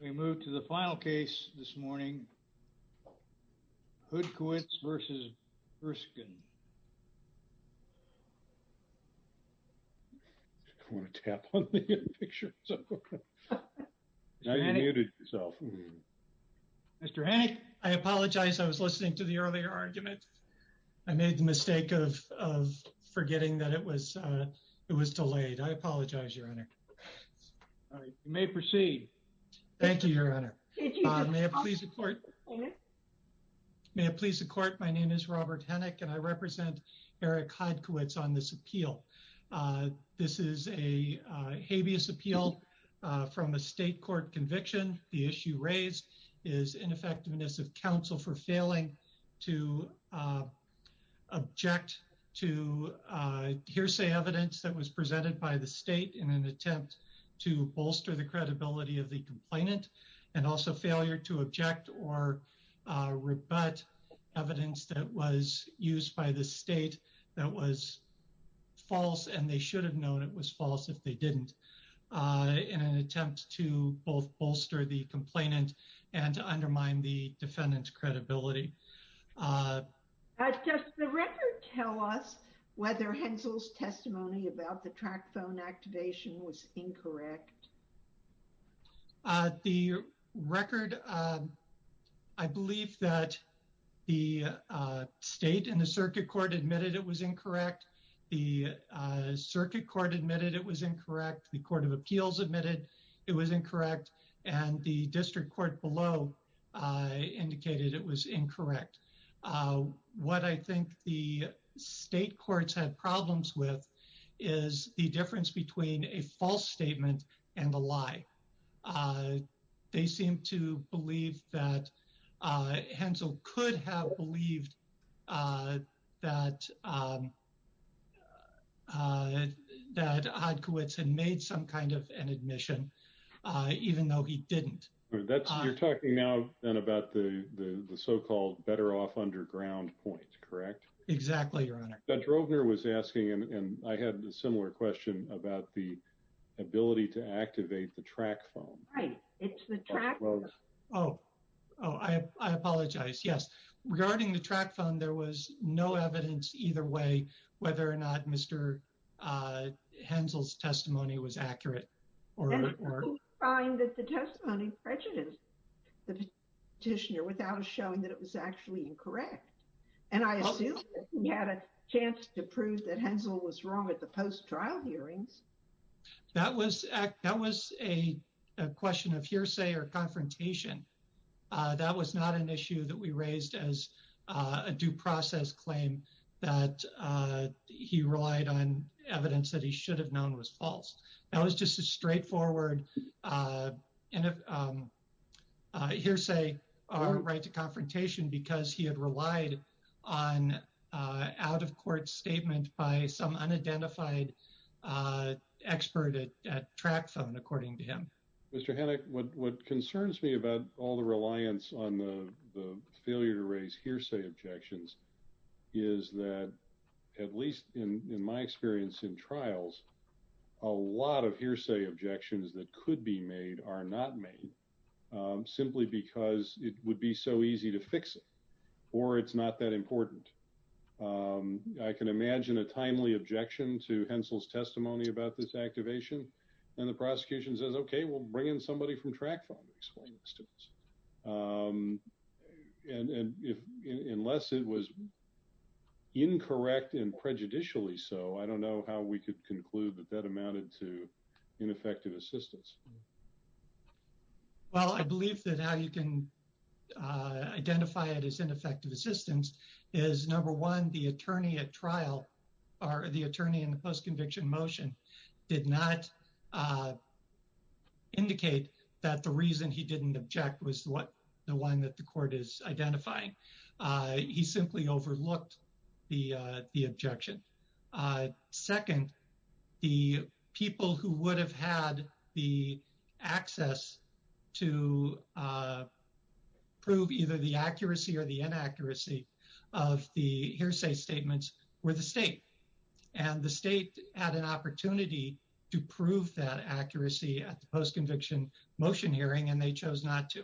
We move to the final case this morning, Hodkiewicz versus Buesgen. Mr. Hennig, I apologize. I was listening to the earlier argument. I made the mistake of forgetting that it was it was delayed. I apologize, your honor. All right, you may proceed. Thank you, your honor. May it please the court. May it please the court. My name is Robert Hennig and I represent Eric Hodkiewicz on this appeal. This is a habeas appeal from a state court conviction. The issue raised is ineffectiveness of counsel for failing to object to hearsay evidence that was presented by the state in an attempt to bolster the credibility of the complainant and also failure to object or rebut evidence that was used by the state that was false and they should have known it was false if they didn't in an attempt to both bolster the complainant and undermine the defendant's testimony about the track phone activation was incorrect. The record, I believe that the state and the circuit court admitted it was incorrect. The circuit court admitted it was incorrect. The court of appeals admitted it was incorrect and the district court below indicated it was incorrect. What I think the state courts had problems with is the difference between a false statement and a lie. They seem to believe that Hensel could have believed that that Hodkiewicz had made some kind of an admission even though he didn't. You're talking now then about the the so-called better off underground point, correct? Exactly, your honor. Drovner was asking and I had a similar question about the ability to activate the track phone. Right, it's the track phone. Oh, I apologize, yes. Regarding the track phone, there was no evidence either way whether or not Mr. Hensel's testimony was accurate or not. People find that the testimony prejudiced the petitioner without showing that it was actually incorrect and I assume he had a chance to prove that Hensel was wrong at the post-trial hearings. That was a question of hearsay or confrontation. That was not an issue that we raised as a due process claim that he relied on evidence that he should have known was false. That was just a straightforward hearsay or right to confrontation because he had relied on an out-of-court statement by some unidentified expert at track phone, according to him. Mr. Hanek, what concerns me about all the reliance on the failure to raise hearsay objections is that at least in my experience in trials, a lot of hearsay objections that could be made are not made simply because it would be so easy to fix it or it's not that important. I can imagine a timely objection to Hensel's testimony about this activation and the prosecution says, okay, we'll bring in somebody from track phone to explain this to us. Unless it was incorrect and prejudicially so, I don't know how we could conclude that that amounted to ineffective assistance. Well, I believe that how you can identify it as ineffective assistance is number one, the attorney at trial or the attorney in the post-conviction motion did not indicate that the reason he didn't object was the one that the court is identifying. He simply overlooked the objection. Second, the people who would have had the access to prove either the accuracy or the inaccuracy of the hearsay statements were the state and the state had an opportunity to prove that accuracy at the post-conviction motion hearing and they chose not to.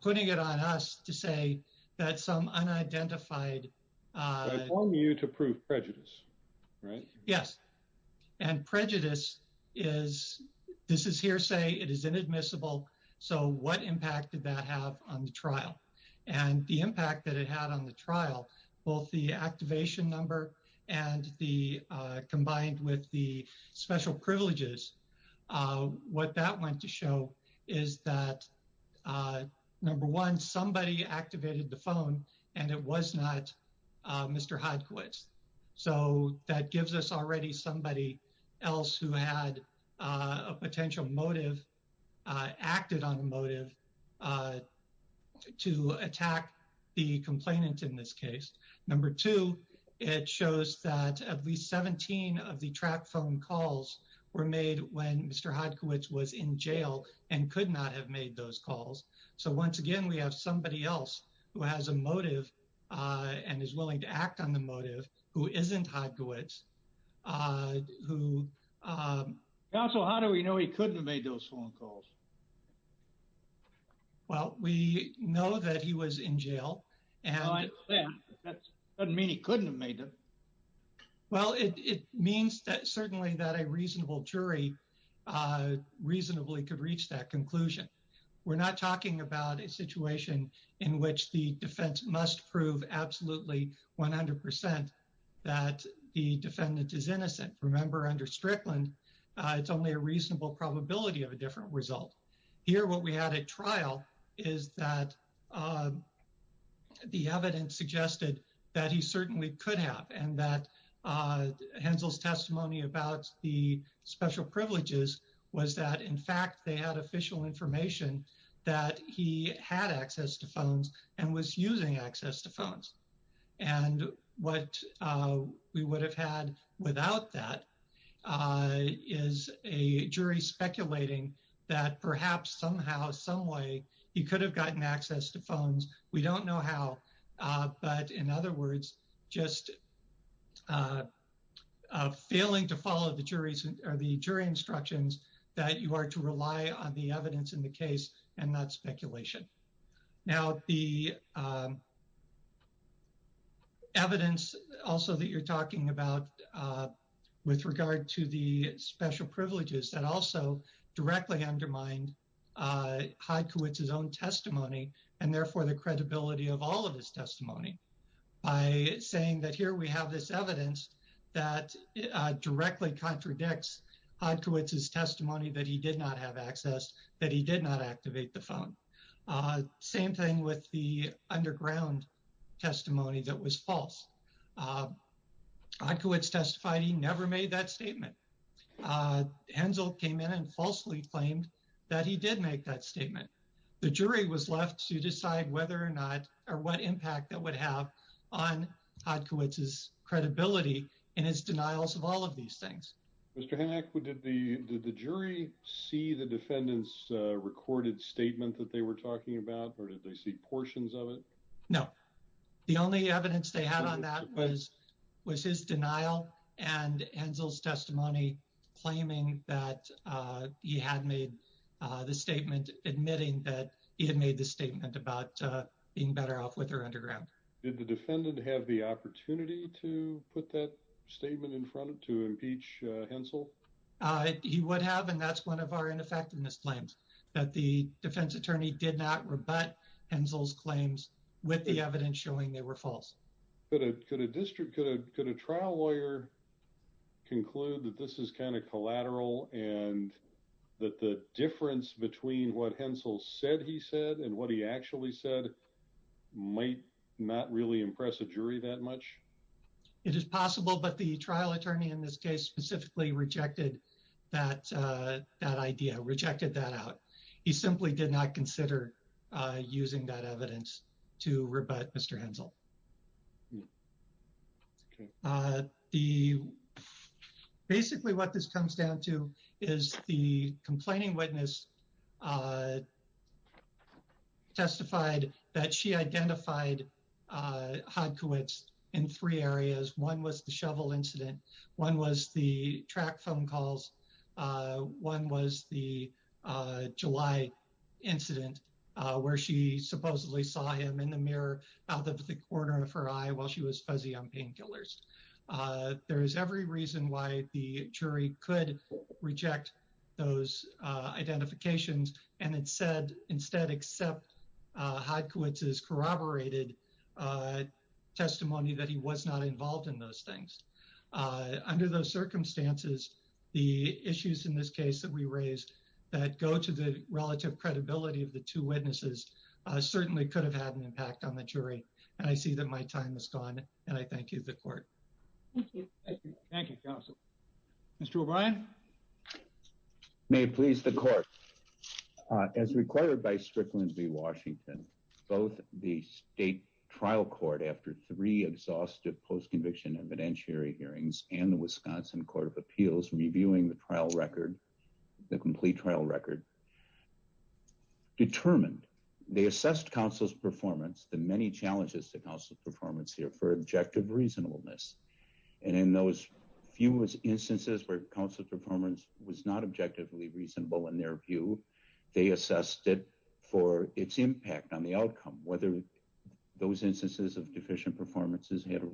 Putting it on us to say that some unidentified- I want you to prove prejudice, right? Yes. And prejudice is, this is hearsay, it is inadmissible. So what impact did that have on the trial? And the impact that it had on the what that went to show is that number one, somebody activated the phone and it was not Mr. Hodkowitz. So that gives us already somebody else who had a potential motive, acted on a motive to attack the complainant in this case. Number two, it shows that at least 17 of the track phone calls were made when Mr. Hodkowitz was in jail and could not have made those calls. So once again, we have somebody else who has a motive and is willing to act on the motive who isn't Hodkowitz, who- Counsel, how do we know he couldn't have made those phone calls? Well, we know that he was in jail and- That doesn't mean he couldn't have made them. Well, it means that certainly that a reasonable jury reasonably could reach that conclusion. We're not talking about a situation in which the defense must prove absolutely 100% that the defendant is innocent. Remember under Strickland, it's only a reasonable probability of a different result. Here, what we had at trial is that the evidence suggested that he certainly could have and that Hensel's testimony about the special privileges was that in fact, they had official information that he had access to phones and was using access to phones. And what we would have had without that is a jury speculating that perhaps somehow, some way he could have gotten access to phones. We don't know how, but in other words, just failing to follow the jury's or the jury instructions that you are to rely on the evidence in the case and not speculation. Now, the with regard to the special privileges that also directly undermined Hodkowitz's own testimony and therefore the credibility of all of his testimony by saying that here we have this evidence that directly contradicts Hodkowitz's testimony that he did not have access, that he did not activate the phone. Same thing with the underground testimony that was false. Hodkowitz testified he never made that statement. Hensel came in and falsely claimed that he did make that statement. The jury was left to decide whether or not or what impact that would have on Hodkowitz's credibility and his denials of all of these things. Mr. Hanek, did the jury see the defendant's recorded statement that they were talking about or did they see portions of it? No. The only evidence they had on that was his denial and Hensel's testimony claiming that he had made the statement admitting that he had made the statement about being better off with her underground. Did the defendant have the opportunity to put that statement in front of to impeach Hensel? He would have and that's one of our ineffectiveness claims that the defense attorney did not rebut Hensel's claims with the evidence showing they were false. Could a district, could a trial lawyer conclude that this is kind of collateral and that the difference between what Hensel said he said and what he actually said might not really impress a jury that much? It is possible but the trial attorney in this case specifically rejected that idea, rejected that out. He simply did not consider using that evidence to rebut Mr. Hensel. Basically what this comes down to is the complaining witness testified that she identified Hodkowitz in three areas. One was the shovel incident, one was the track phone calls, one was the July incident where she supposedly saw him in the mirror out of the corner of her eye while she was fuzzy on painkillers. There is every reason why the jury could reject those identifications and instead accept Hodkowitz's corroborated testimony that he was not involved in those things. Under those circumstances the issues in this case that we raised that go to the relative credibility of the two witnesses certainly could have had an impact on the jury and I see that my time is gone and I thank you the court. Thank you. Thank you counsel. Mr. O'Brien. May it please the court. As required by Strickland v Washington both the state trial court after three exhaustive post-conviction evidentiary hearings and the Wisconsin court of appeals reviewing the trial record, the complete trial record, determined they assessed counsel's performance, the many challenges to counsel's performance here for objective reasonableness and in those few instances where counsel's performance was not whether those instances of deficient performances created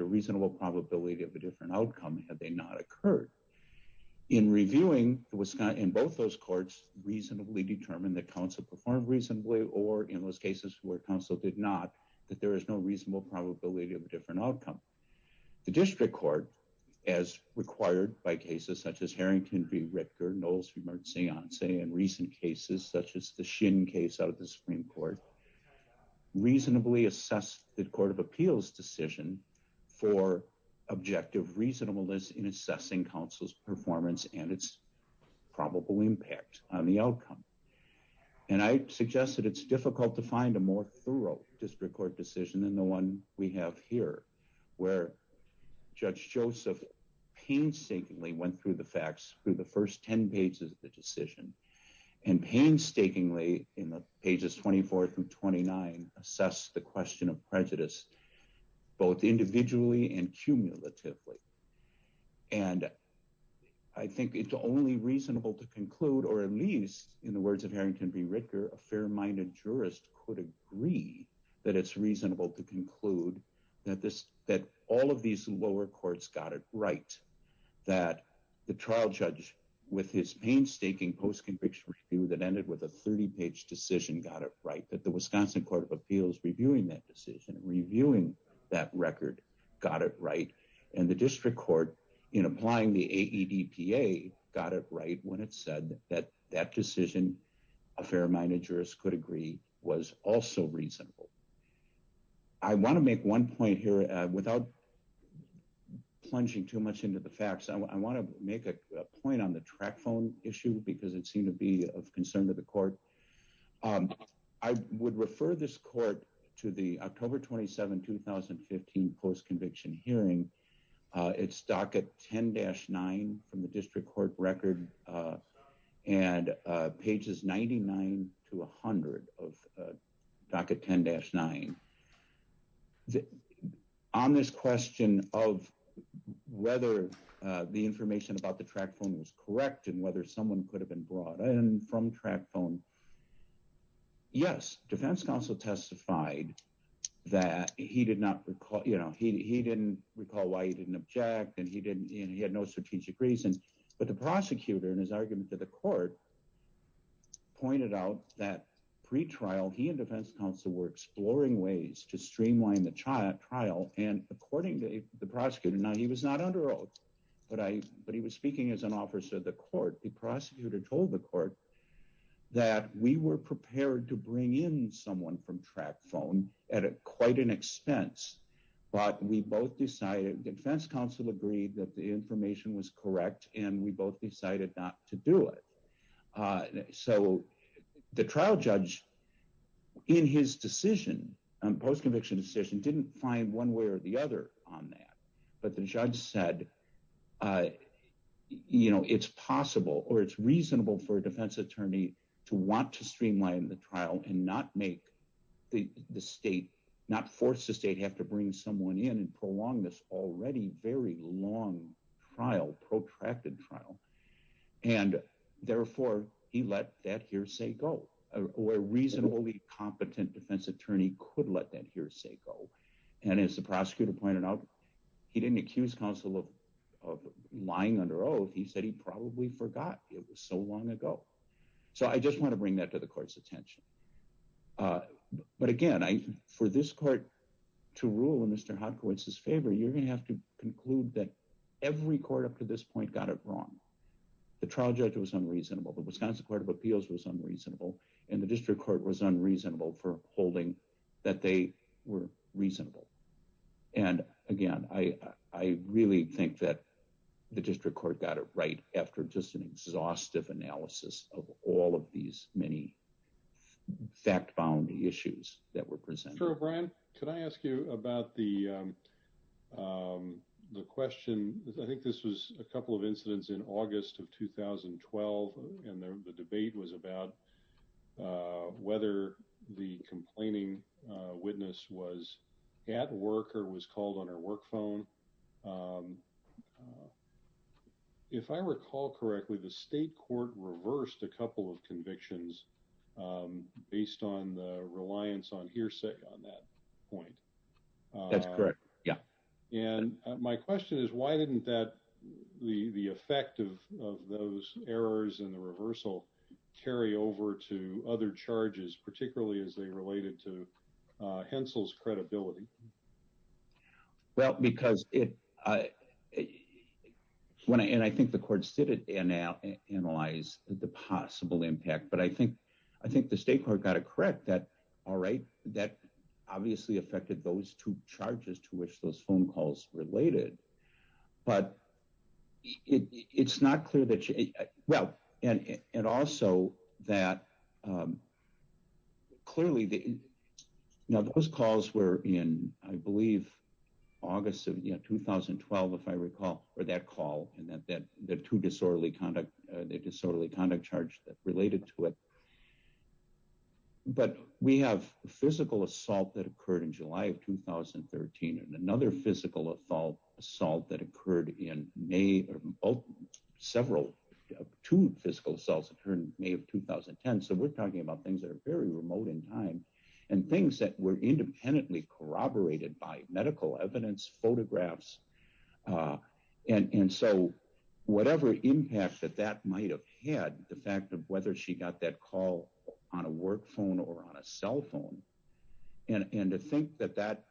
a reasonable probability of a different outcome had they not occurred. In reviewing in both those courts reasonably determined that counsel performed reasonably or in those cases where counsel did not that there is no reasonable probability of a different outcome. The district court as required by cases such as Harrington v court reasonably assessed the court of appeals decision for objective reasonableness in assessing counsel's performance and its probable impact on the outcome and I suggest that it's difficult to find a more thorough district court decision than the one we have here where Judge Joseph painstakingly went through the facts through the first 10 pages of the decision and painstakingly in the pages 24 through 29 assess the question of prejudice both individually and cumulatively and I think it's only reasonable to conclude or at least in the words of Harrington v. Ritger a fair-minded jurist could agree that it's reasonable to conclude that this that all of these lower courts got it right that the trial judge with his painstaking post-conviction review that ended with a 30-page decision got it right that the Wisconsin court of appeals reviewing that decision reviewing that record got it right and the district court in applying the AEDPA got it right when it said that that decision a fair-minded jurist could agree was also reasonable. I want to make one point here without plunging too much into the facts I want to make a point on the track phone issue because it seemed to be of concern to the court. I would refer this court to the October 27, 2015 post-conviction hearing. It's docket 10-9 from the district court record and pages 99 to 100 of docket 10-9. On this question of whether the information about the track phone was correct and whether someone could have been brought in from track phone yes defense counsel testified that he did not recall you know he didn't recall why he didn't object and he didn't he had no strategic reason but the prosecutor and his argument to the court pointed out that pre-trial he and defense counsel were exploring ways to streamline the trial and according to the prosecutor now he was not under oath but I but he was speaking as an officer of the court the prosecutor told the court that we were prepared to bring in someone from track phone at a quite an expense but we both decided defense counsel agreed that the information was correct and we both decided not to do it so the trial judge in his decision and post-conviction decision didn't find one way or the other on that but the judge said uh you know it's possible or it's reasonable for a defense attorney to want to streamline the trial and not make the the state not force the state have to bring someone in and prolong this already very long trial protracted trial and therefore he let that hearsay go where reasonably competent defense attorney could let that hearsay go and as the prosecutor pointed out he didn't accuse counsel of of lying under oath he said he probably forgot it was so long ago so I just want to bring that to the court's attention but again I for this court to rule in Mr. Hodkowitz's favor you're going to have to conclude that every court up to this point got it wrong the trial judge was unreasonable the Wisconsin court of appeals was unreasonable and the district court was unreasonable for holding that they were reasonable and again I really think that the district court got it right after just an exhaustive analysis of all of these many fact-bound issues that were presented. Brian could I ask you about the question I think this was a couple of incidents in August of 2012 and the debate was about whether the complaining witness was at work or was called on her work phone if I recall correctly the state court reversed a couple of convictions based on the reliance on hearsay on that point that's correct yeah and my question is why didn't that the the effect of of those errors in the reversal carry over to other charges particularly as they related to uh Hensel's credibility well because it I when I and I think the court stood it and now analyze the possible impact but I think I think the state court got it correct that all right that obviously affected those two charges to which those phone calls related but it's not clear that well and and also that um clearly the now those calls were in I believe August of 2012 if I recall or that call and that that the two disorderly conduct the disorderly conduct charge that related to it but we have physical assault that occurred in July of 2013 and another physical assault assault that occurred in May of several two physical assaults occurred May of 2010 so we're talking about things that are very remote in time and things that were independently corroborated by might have had the fact of whether she got that call on a work phone or on a cell phone and and to think that that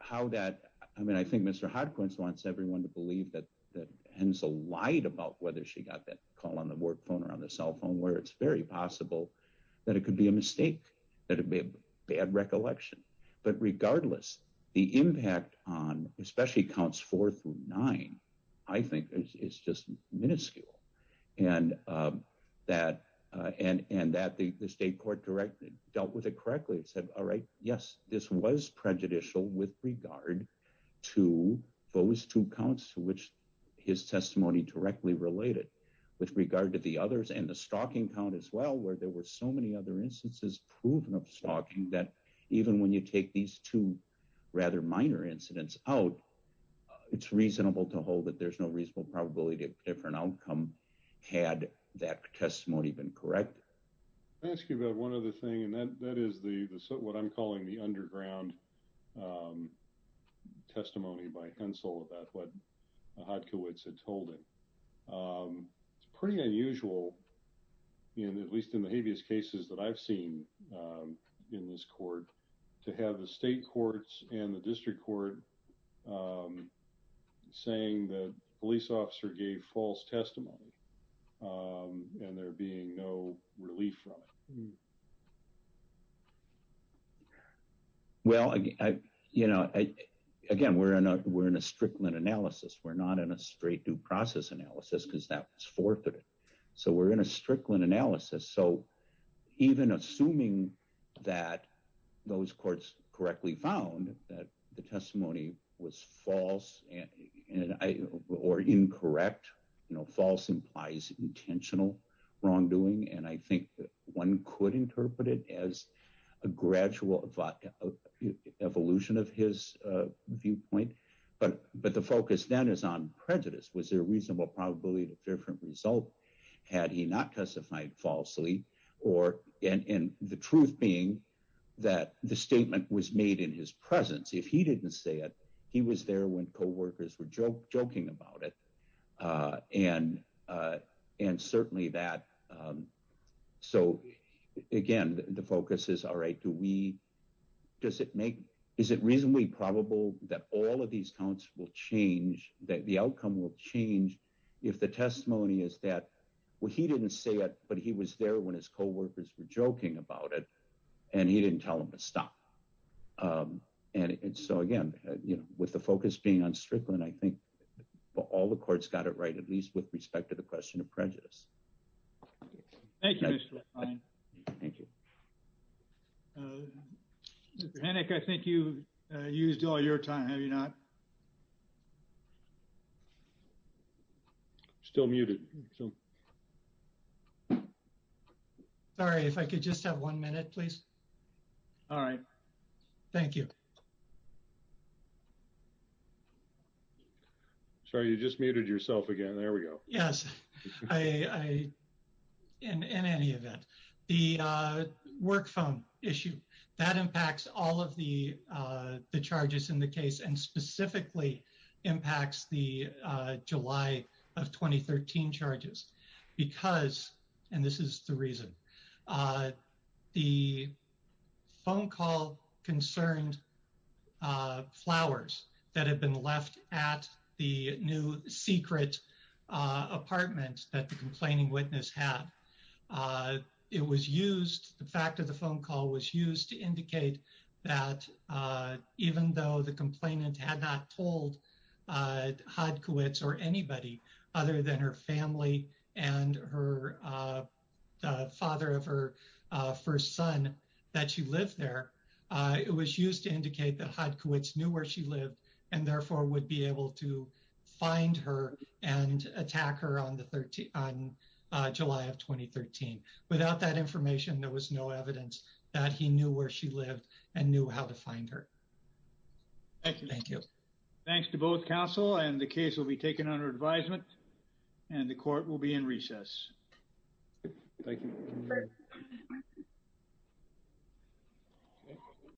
how that I mean I think Mr. Hodkins wants everyone to believe that that Hensel lied about whether she got that call on the work phone or on the cell phone where it's very possible that it could be a mistake that it'd be a bad recollection but regardless the impact on especially counts four through nine I think is just minuscule and um that uh and and that the state court directly dealt with it correctly it said all right yes this was prejudicial with regard to those two counts to which his testimony directly related with regard to the others and the stalking count as well where there were so many other instances proven of stalking that even when you take these two rather minor incidents out it's reasonable to hold that there's no reasonable probability of different outcome had that testimony been correct. I'll ask you about one other thing and that that is the what I'm calling the underground testimony by Hensel about what Hodkowitz had told him. It's pretty unusual in at least in the to have the state courts and the district court saying that police officer gave false testimony and there being no relief from it. Well I you know I again we're in a we're in a Strickland analysis we're not in a straight due process analysis because that was forfeited so we're in a Strickland analysis so even assuming that those courts correctly found that the testimony was false and and I or incorrect you know false implies intentional wrongdoing and I think that one could interpret it as a gradual evolution of his viewpoint but but the focus then is on prejudice was there a proof being that the statement was made in his presence if he didn't say it he was there when co-workers were joking about it and and certainly that so again the focus is all right do we does it make is it reasonably probable that all of these counts will change that the outcome will change if the testimony is that well he didn't say it but he was there when his co-workers were and he didn't tell him to stop and so again you know with the focus being on Strickland I think all the courts got it right at least with respect to the question of prejudice. Thank you Mr. Klein. Thank you. Mr. Hennick I think you used all your time have you not? Still muted. So sorry if I could just have one minute please. All right. Thank you. Sorry you just muted yourself again there we go. Yes I in any event the work phone issue that and specifically impacts the July of 2013 charges because and this is the reason the phone call concerned flowers that had been left at the new secret apartment that the complaining witness had it was used the fact of the phone call was used to indicate that even though the complainant had not told Hodkowitz or anybody other than her family and her father of her first son that she lived there it was used to indicate that Hodkowitz knew where she lived and therefore would be able to find her and attack her on the 13th on July of 2013. Without that information there was no evidence that he knew where she lived and knew how to find her. Thank you. Thanks to both counsel and the case will be taken under advisement and the court will be in recess.